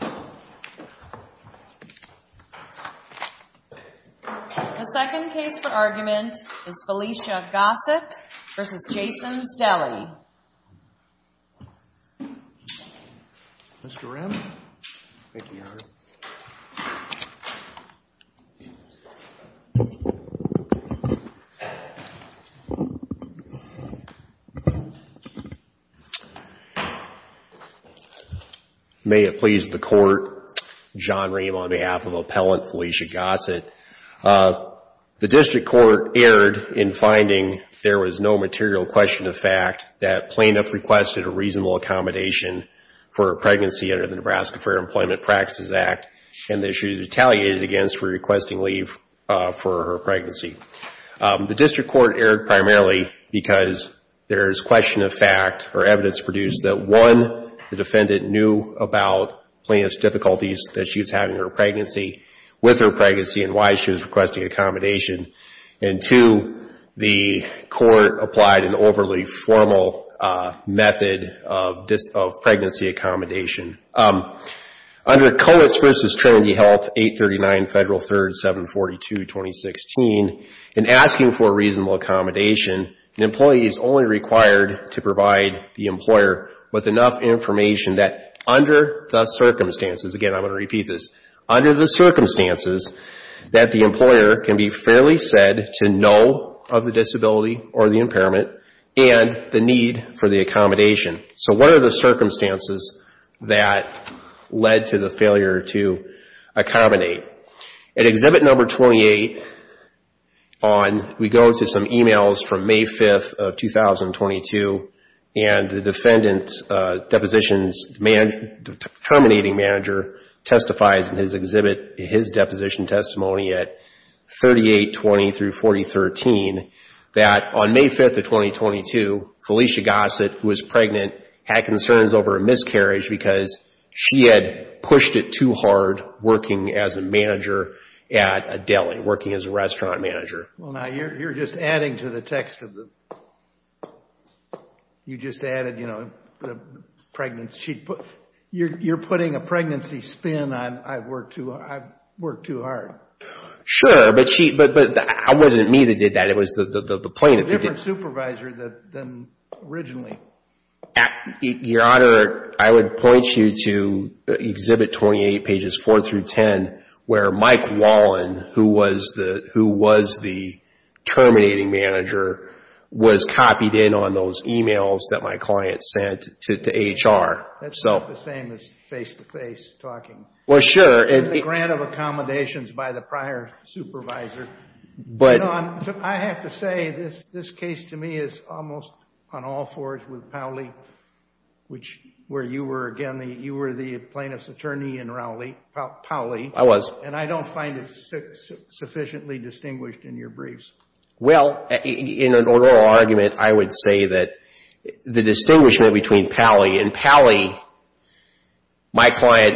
The second case for argument is Felicia Gossett v. Jason's Deli. May it please the Court, John Rehm on behalf of Appellant Felicia Gossett. The District Court erred in finding there was no material question of fact that plaintiff requested a reasonable accommodation for her pregnancy under the Nebraska Fair Employment Practices Act and that she was retaliated against for requesting leave for her pregnancy. The District Court erred primarily because there is question of fact or evidence produced that one, the defendant knew about plaintiff's difficulties that she was having her pregnancy with her pregnancy and why she was requesting accommodation, and two, the Court applied an overly formal method of pregnancy accommodation. Under Coates v. Trinity Health 839 Federal 3rd 742 2016, in asking for a reasonable accommodation, an employee is only required to provide the employer with enough information that under the circumstances, again I'm going to repeat this, under the circumstances that the employer can be fairly said to know of the disability or the impairment and the need for the accommodation. So what are the circumstances that led to the failure to accommodate? At Exhibit Number 28, we go to some emails from May 5th of 2022, and the defendant's depositions, the terminating manager testifies in his deposition testimony at 3820 through 4013 that on May 5th of 2022, Felicia Gossett, who was pregnant, had concerns over a miscarriage because she had pushed it too hard working as an employee. She was a manager at a deli, working as a restaurant manager. Well, now you're just adding to the text of the, you just added, you know, the pregnancy. You're putting a pregnancy spin on I've worked too hard. Sure, but she, but it wasn't me that did that. It was the plaintiff. A different supervisor than originally. Your Honor, I would point you to Exhibit 28, pages 4 through 10, where Mike Wallin, who was the terminating manager, was copied in on those emails that my client sent to HR. That's not the same as face-to-face talking. Well, sure. The grant of accommodations by the prior supervisor. I have to say, this case to me is almost on all fours with Powley, which where you were, again, you were the plaintiff's attorney in Rowley, Powley. I was. And I don't find it sufficiently distinguished in your briefs. Well, in an oral argument, I would say that the distinguishment between Powley and Powley, my client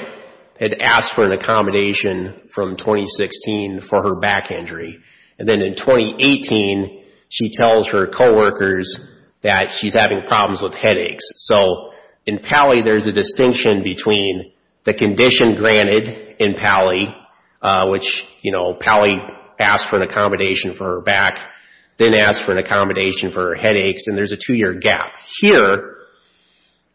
had asked for an accommodation from 2016 for her back injury. And then in 2018, she tells her coworkers that she's having problems with headaches. So, in Powley, there's a distinction between the condition granted in Powley, which Powley asked for an accommodation for her back, then asked for an accommodation for her headaches, and there's a two-year gap. Now, here,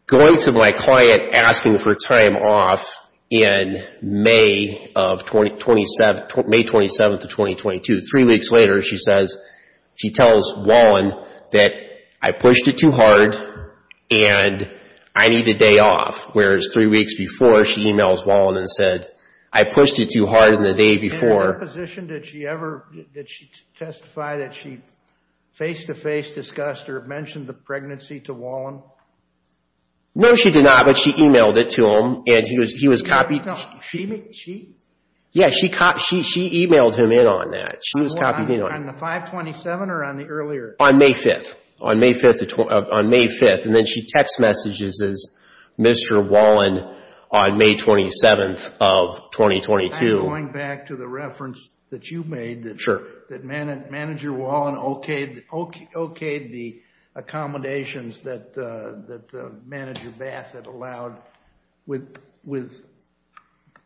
going to my client asking for time off in May 27th of 2022, three weeks later, she says, she tells Wallin that I pushed it too hard and I need a day off. Whereas, three weeks before, she emails Wallin and said, I pushed it too hard in the day before. In your position, did she ever, did she testify that she face-to-face discussed or mentioned the pregnancy to Wallin? No, she did not, but she emailed it to him and he was copied. She? Yeah, she emailed him in on that. On the 5-27 or on the earlier? On May 5th. On May 5th, and then she text messages as Mr. Wallin on May 27th of 2022. I'm going back to the reference that you made that Manager Wallin okayed the accommodations that Manager Bath had allowed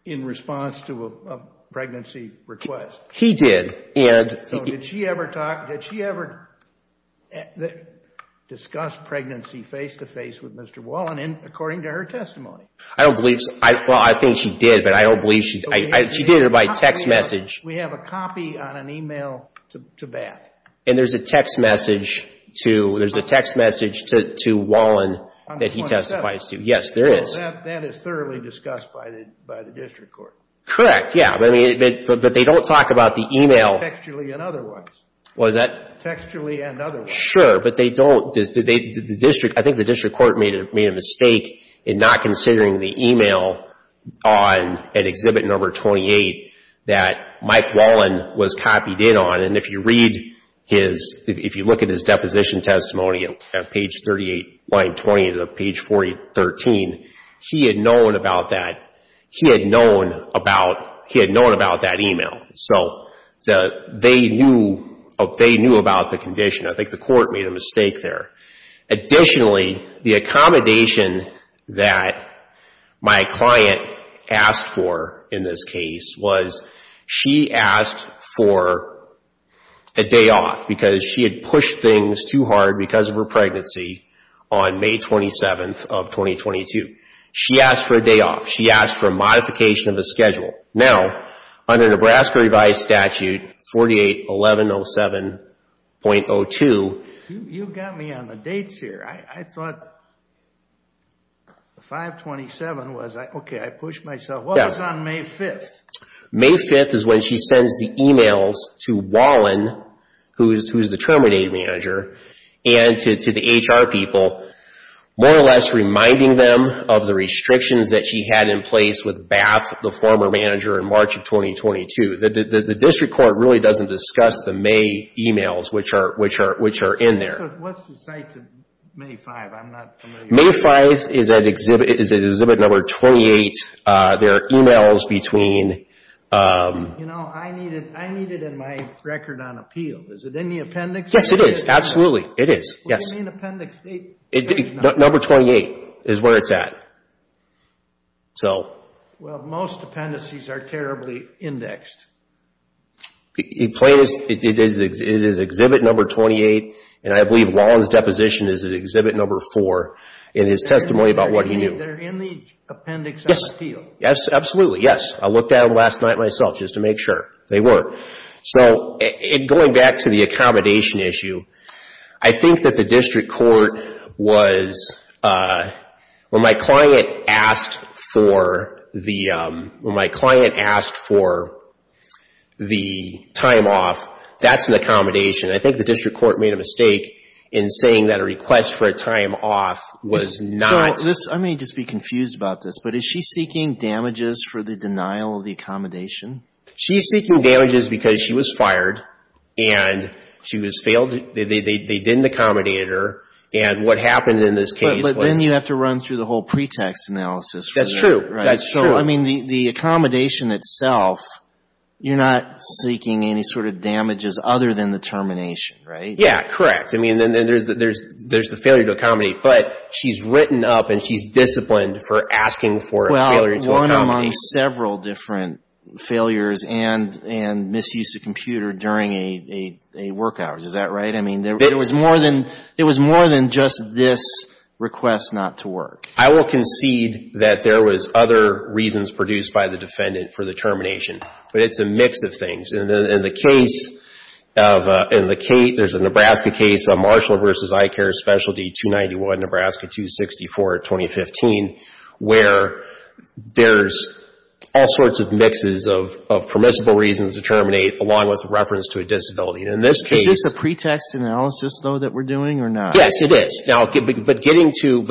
in response to a pregnancy request. He did. Did she ever discuss pregnancy face-to-face with Mr. Wallin according to her testimony? I don't believe so. Well, I think she did, but I don't believe she did. She did it by text message. We have a copy on an email to Bath. There's a text message to Wallin that he testifies to. Yes, there is. That is thoroughly discussed by the district court. Correct, yeah, but they don't talk about the email. Textually and otherwise. What is that? Textually and otherwise. I think the district court made a mistake in not considering the email on exhibit number 28 that Mike Wallin was copied in on. If you look at his deposition testimony on page 38, line 20 to page 13, he had known about that email. They knew about the condition. I think the court made a mistake there. Additionally, the accommodation that my client asked for in this case was she asked for a day off because she had pushed things too hard because of her pregnancy on May 27th of 2022. She asked for a day off. She asked for a modification of the schedule. Now, under Nebraska revised statute 48-1107.02. You got me on the dates here. I thought the 5-27 was, okay, I pushed myself. What was on May 5th? May 5th is when she sends the emails to Wallin, who is the terminated manager, and to the HR people more or less reminding them of the restrictions that she had in place with Bath, the former manager, in March of 2022. The district court really doesn't discuss the May emails which are in there. What's the site to May 5th? I'm not familiar. May 5th is at exhibit number 28. There are emails between... I need it in my record on appeal. Is it in the appendix? Yes, it is. Absolutely, it is. What do you mean appendix 8? Number 28 is where it's at. Well, most appendices are terribly indexed. It is exhibit number 28, and I believe Wallin's deposition is at exhibit number 4 in his testimony about what he knew. They're in the appendix on appeal. Yes, absolutely, yes. I looked at them last night myself just to make sure. They were. Going back to the accommodation issue, I think that the district court was... When my client asked for the time off, that's an accommodation. I think the district court made a mistake in saying that a request for a time off was not... I may just be confused about this, but is she seeking damages for the denial of the accommodation? She's seeking damages because she was fired, and they didn't accommodate her, and what happened in this case was... But then you have to run through the whole pretext analysis. That's true, that's true. So, I mean, the accommodation itself, you're not seeking any sort of damages other than the termination, right? Yes, correct. I mean, then there's the failure to accommodate, but she's written up and she's disciplined for asking for a failure to accommodate. Among several different failures and misuse of computer during a work hour. Is that right? I mean, it was more than just this request not to work. I will concede that there was other reasons produced by the defendant for the termination, but it's a mix of things. In the case of... There's a Nebraska case, Marshall v. Eye Care Specialty 291, Nebraska 264, 2015, where there's all sorts of mixes of permissible reasons to terminate along with reference to a disability. In this case... Is this a pretext analysis, though, that we're doing or not? Yes, it is. But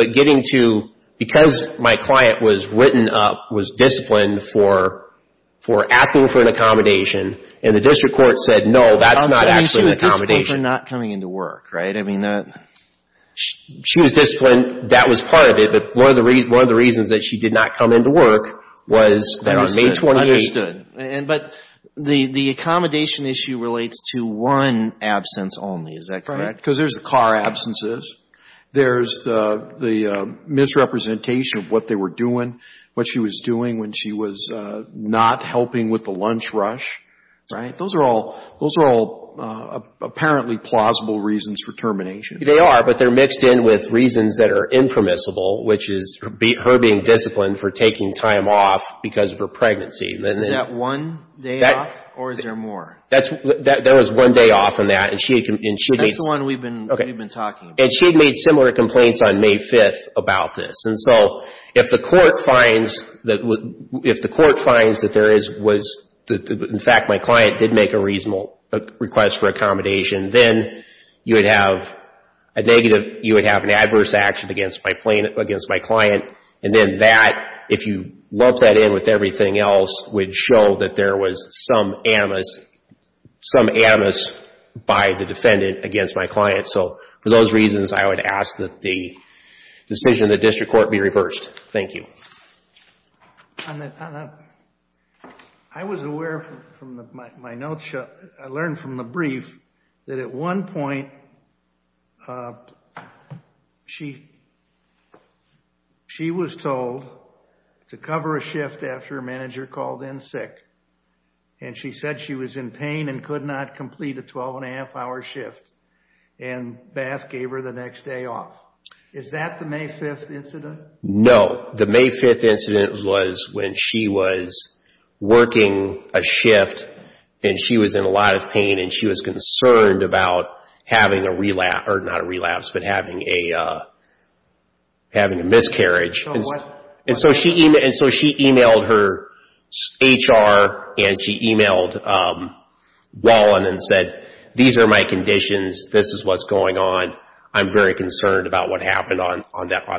getting to... Because my client was written up, was disciplined for asking for an accommodation, and the district court said, no, that's not actually an accommodation. I mean, she was disciplined for not coming into work, right? She was disciplined. That was part of it, but one of the reasons that she did not come into work was that on May 28th... But the accommodation issue relates to one absence only. Is that correct? Right, because there's car absences. There's the misrepresentation of what they were doing, what she was doing when she was not helping with the lunch rush, right? Those are all apparently plausible reasons for termination. They are, but they're mixed in with reasons that are impermissible, which is her being disciplined for taking time off because of her pregnancy. Is that one day off, or is there more? There was one day off on that, and she had made... That's the one we've been talking about. And she had made similar complaints on May 5th about this. And so if the court finds that there is... In fact, my client did make a reasonable request for accommodation, then you would have a negative... You would have an adverse action against my client. And then that, if you lump that in with everything else, would show that there was some animus by the defendant against my client. So for those reasons, I would ask that the decision of the district court be reversed. Thank you. I was aware from my notes... I learned from the brief that at one point she was told to cover a shift after her manager called in sick. And she said she was in pain and could not complete a 12-and-a-half-hour shift. And Bath gave her the next day off. Is that the May 5th incident? No. The May 5th incident was when she was working a shift, and she was in a lot of pain, and she was concerned about having a relapse... Or not a relapse, but having a miscarriage. Oh, what? And so she emailed her HR, and she emailed Wallin and said, These are my conditions. This is what's going on. I'm very concerned about what happened on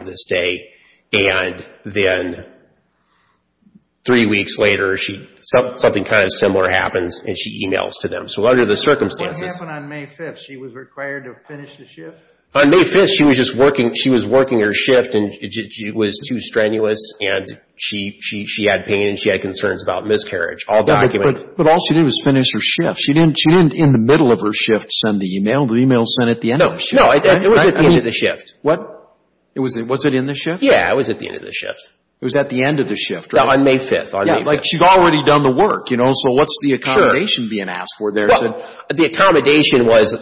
this day. And then three weeks later, something kind of similar happens, and she emails to them. So under the circumstances... What happened on May 5th? She was required to finish the shift? On May 5th, she was working her shift, and she was too strenuous, and she had pain, and she had concerns about miscarriage. But all she did was finish her shift. She didn't, in the middle of her shift, send the email. The email was sent at the end of the shift. No, it was at the end of the shift. What? Was it in the shift? Yeah, it was at the end of the shift. It was at the end of the shift, right? No, on May 5th, on May 5th. Yeah, like she'd already done the work, you know, so what's the accommodation being asked for there? Well, the accommodation was,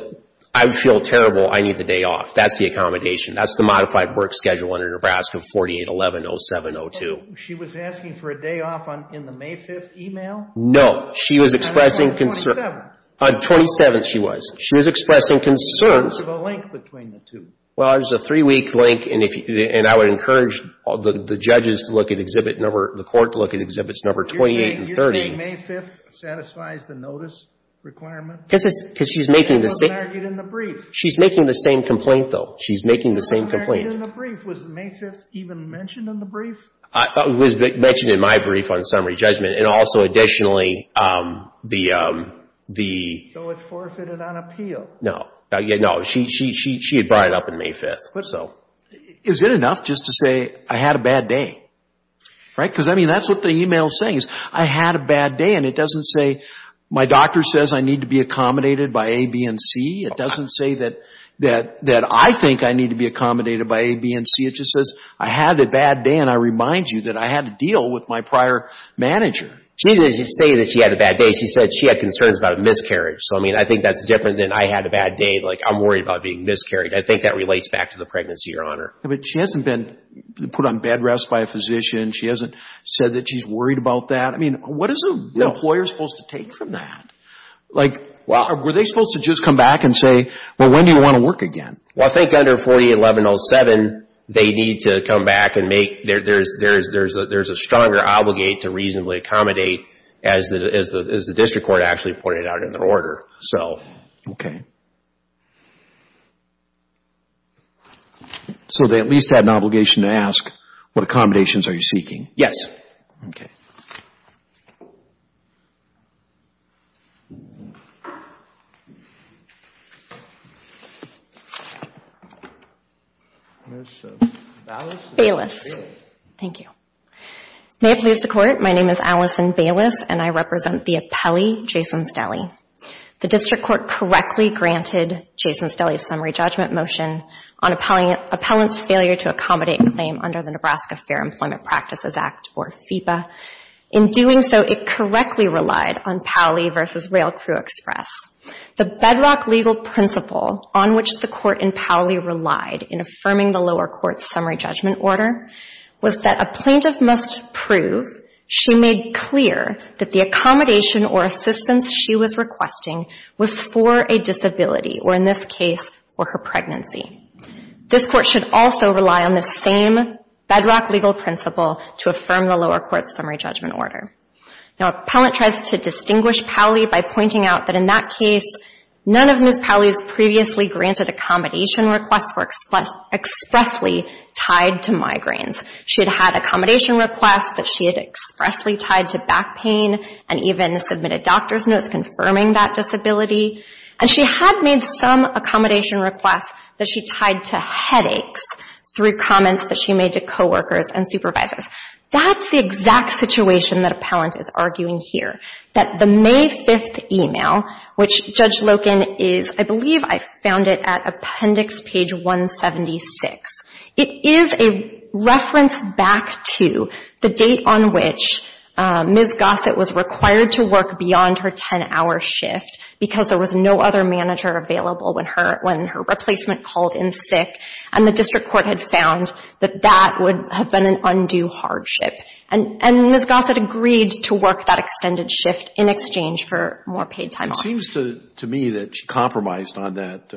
I feel terrible. I need the day off. That's the accommodation. That's the modified work schedule under Nebraska 4811-0702. She was asking for a day off in the May 5th email? No. She was expressing concern. On May 27th? On 27th, she was. She was expressing concerns. There was a link between the two. Well, there's a three-week link, and I would encourage the judges to look at Exhibit Number, the court to look at Exhibits Number 28 and 30. You're saying May 5th satisfies the notice requirement? Because she's making the same. She wasn't argued in the brief. She's making the same complaint, though. She's making the same complaint. She wasn't argued in the brief. Was May 5th even mentioned in the brief? It was mentioned in my brief on summary judgment, and also, additionally, the... So it's forfeited on appeal? No. No. She had brought it up on May 5th. Is it enough just to say, I had a bad day? Right? Because, I mean, that's what the email is saying is, I had a bad day, and it doesn't say, my doctor says I need to be accommodated by A, B, and C. It doesn't say that I think I need to be accommodated by A, B, and C. It just says, I had a bad day, and I remind you that I had a deal with my prior manager. She didn't say that she had a bad day. She said she had concerns about a miscarriage. So, I mean, I think that's different than, I had a bad day. Like, I'm worried about being miscarried. I think that relates back to the pregnancy, Your Honor. But she hasn't been put on bed rest by a physician. She hasn't said that she's worried about that. I mean, what is an employer supposed to take from that? Like, were they supposed to just come back and say, well, when do you want to work again? Well, I think under 48-1107, they need to come back and make... There's a stronger obligate to reasonably accommodate, as the district court actually put it out in their order. So... So, they at least have an obligation to ask, what accommodations are you seeking? Yes. Okay. Bayless. Thank you. May it please the Court. My name is Allison Bayless, and I represent the appellee, Jason Stelly. The district court correctly granted Jason Stelly's summary judgment motion on appellant's failure to accommodate claim under the Nebraska Fair Employment Practices Act, or FEPA. In doing so, it correctly relied on Powley v. Rail Crew Express. The bedrock legal principle on which the court in Powley relied in affirming the lower court's summary judgment order was that a plaintiff must prove she made clear that the accommodation or assistance she was requesting was for a disability, or in this case, for her pregnancy. This court should also rely on the same bedrock legal principle to affirm the lower court's summary judgment order. Now, appellant tries to distinguish Powley by pointing out that in that case, none of Ms. Powley's previously granted accommodation requests were expressly tied to migraines. She had had accommodation requests that she had expressly tied to back pain, and even submitted doctor's notes confirming that disability. And she had made some accommodation requests that she tied to headaches through comments that she made to coworkers and supervisors. That's the exact situation that appellant is arguing here, that the May 5th email, which Judge Loken is, I believe I found it at appendix page 176. It is a reference back to the date on which Ms. Gossett was required to work beyond her 10-hour shift because there was no other manager available when her replacement called in sick, and the district court had found that that would have been an undue hardship. And Ms. Gossett agreed to work that extended shift in exchange for more paid time off. It seems to me that she compromised on that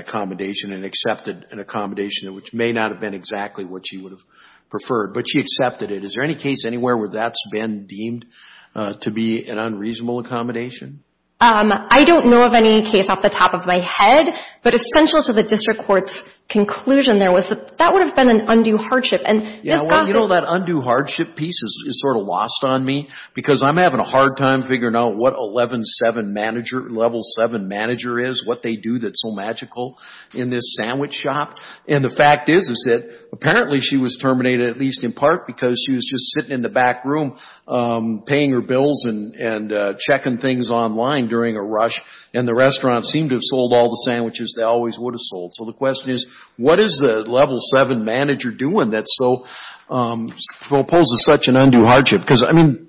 accommodation and accepted an accommodation which may not have been exactly what she would have preferred, but she accepted it. Is there any case anywhere where that's been deemed to be an unreasonable accommodation? I don't know of any case off the top of my head, but essential to the district court's conclusion there was that that would have been an undue hardship. And Ms. Gossett You know, that undue hardship piece is sort of lost on me because I'm having a hard time figuring out what 11-7 manager, level 7 manager is, what they do that's so magical in this sandwich shop. And the fact is that apparently she was terminated at least in part because she was just sitting in the back room paying her bills and checking things online during a rush, and the restaurant seemed to have sold all the sandwiches they always would have sold. So the question is, what is the level 7 manager doing that proposes such an undue hardship? Because, I mean,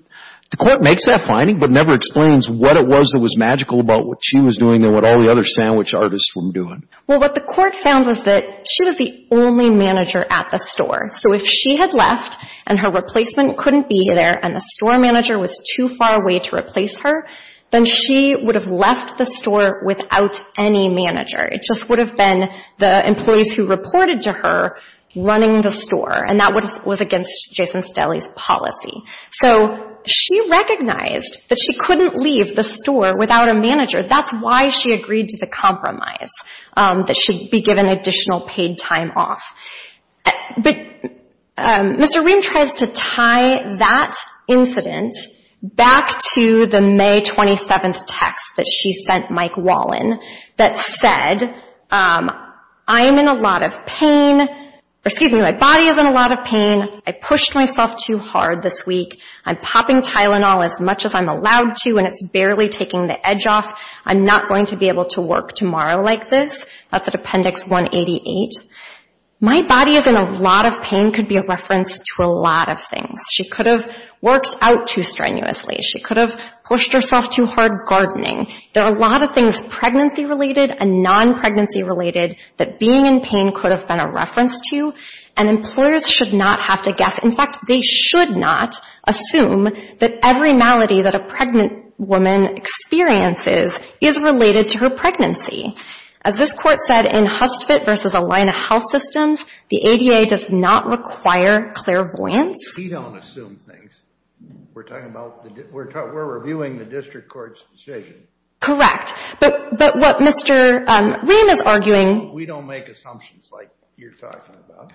the court makes that finding but never explains what it was that was magical about what she was doing and what all the other sandwich artists were doing. Well, what the court found was that she was the only manager at the store. So if she had left and her replacement couldn't be there and the store manager was too far away to replace her, then she would have left the store without any manager. It just would have been the employees who reported to her running the store, and that was against Jason Stelly's policy. So she recognized that she couldn't leave the store without a manager. That's why she agreed to the compromise that she'd be given additional paid time off. But Mr. Rehm tries to tie that incident back to the May 27th text that she sent Mike Wallin that said, I'm in a lot of pain. Excuse me, my body is in a lot of pain. I pushed myself too hard this week. I'm popping Tylenol as much as I'm allowed to and it's barely taking the edge off. I'm not going to be able to work tomorrow like this. That's at Appendix 188. My body is in a lot of pain could be a reference to a lot of things. She could have worked out too strenuously. She could have pushed herself too hard gardening. There are a lot of things pregnancy related and non-pregnancy related that being in pain could have been a reference to, and employers should not have to guess. In fact, they should not assume that every malady that a pregnant woman experiences is related to her pregnancy. As this court said in Hustvedt v. Alina Health Systems, the ADA does not require clairvoyance. We don't assume things. We're reviewing the district court's decision. Correct, but what Mr. Rehm is arguing We don't make assumptions like you're talking about.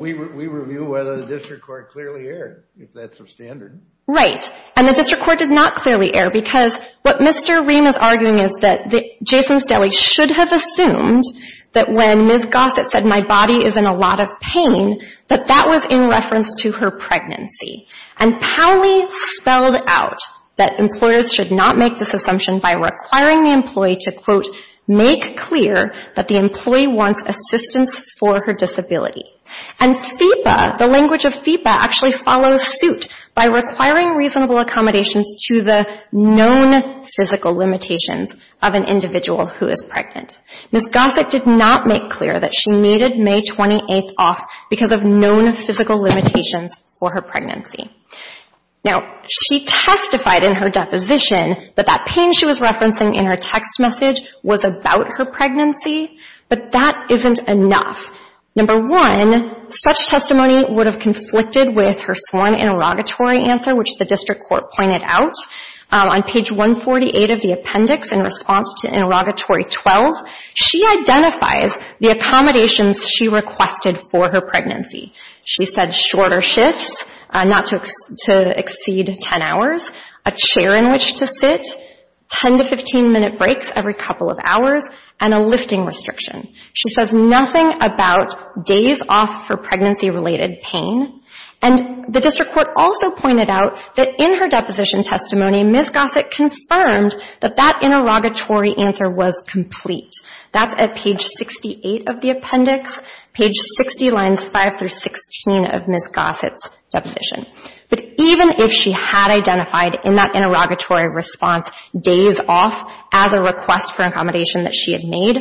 We review whether the district court clearly erred, if that's the standard. Right, and the district court did not clearly err because what Mr. Rehm is arguing is that Jason Stelly should have assumed that when Ms. Gossett said my body is in a lot of pain, that that was in reference to her pregnancy. And Powley spelled out that employers should not make this assumption by requiring the employee to, quote, make clear that the employee wants assistance for her disability. And FEPA, the language of FEPA, actually follows suit by requiring reasonable accommodations to the known physical limitations of an individual who is pregnant. Ms. Gossett did not make clear that she needed May 28th off because of known physical limitations for her pregnancy. Now, she testified in her deposition that that pain she was referencing in her text message was about her pregnancy, but that isn't enough. Number one, such testimony would have conflicted with her sworn interrogatory answer, which the district court pointed out. On page 148 of the appendix in response to interrogatory 12, she identifies the accommodations she requested for her pregnancy. She said shorter shifts, not to exceed 10 hours, a chair in which to sit, 10 to 15-minute breaks every couple of hours, and a lifting restriction. She says nothing about days off for pregnancy-related pain. And the district court also pointed out that in her deposition testimony, Ms. Gossett confirmed that that interrogatory answer was complete. That's at page 68 of the appendix, page 60, lines 5 through 16 of Ms. Gossett's deposition. But even if she had identified in that interrogatory response days off as a request for accommodation that she had made,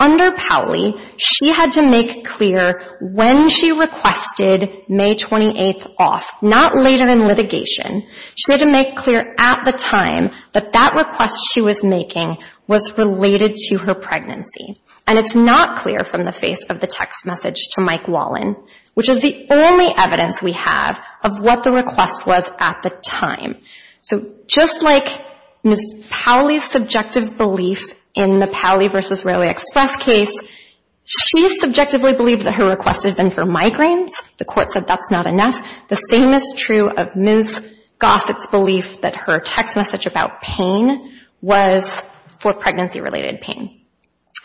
under Powley she had to make clear when she requested May 28th off, not later in litigation. She had to make clear at the time that that request she was making was related to her pregnancy. And it's not clear from the face of the text message to Mike Wallin, which is the only evidence we have of what the request was at the time. So just like Ms. Powley's subjective belief in the Powley v. Rarely Expressed case, she subjectively believed that her request had been for migraines. The court said that's not enough. The same is true of Ms. Gossett's belief that her text message about pain was for pregnancy-related pain.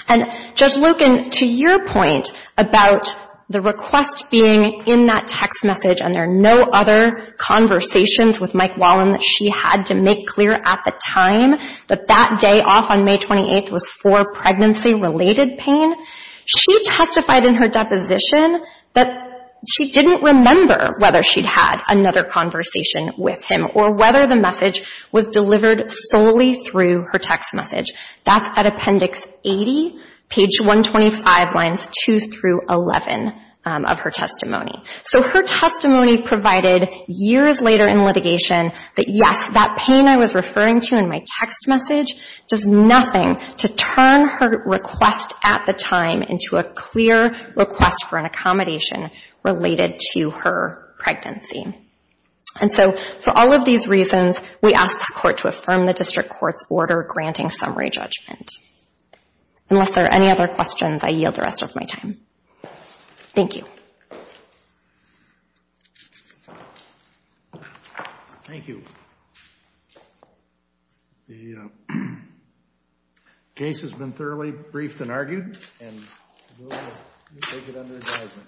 And, Judge Loken, to your point about the request being in that text message and there are no other conversations with Mike Wallin that she had to make clear at the time that that day off on May 28th was for pregnancy-related pain, she testified in her deposition that she didn't remember whether she'd had another conversation with him or whether the message was delivered solely through her text message. That's at Appendix 80, page 125, lines 2 through 11 of her testimony. So her testimony provided years later in litigation that, yes, that pain I was referring to in my text message does nothing to turn her request at the time into a clear request for an accommodation related to her pregnancy. And so for all of these reasons, we ask the Court to affirm the District Court's order granting summary judgment. Unless there are any other questions, I yield the rest of my time. Thank you. Thank you. The case has been thoroughly briefed and argued, and we'll take it under advisement.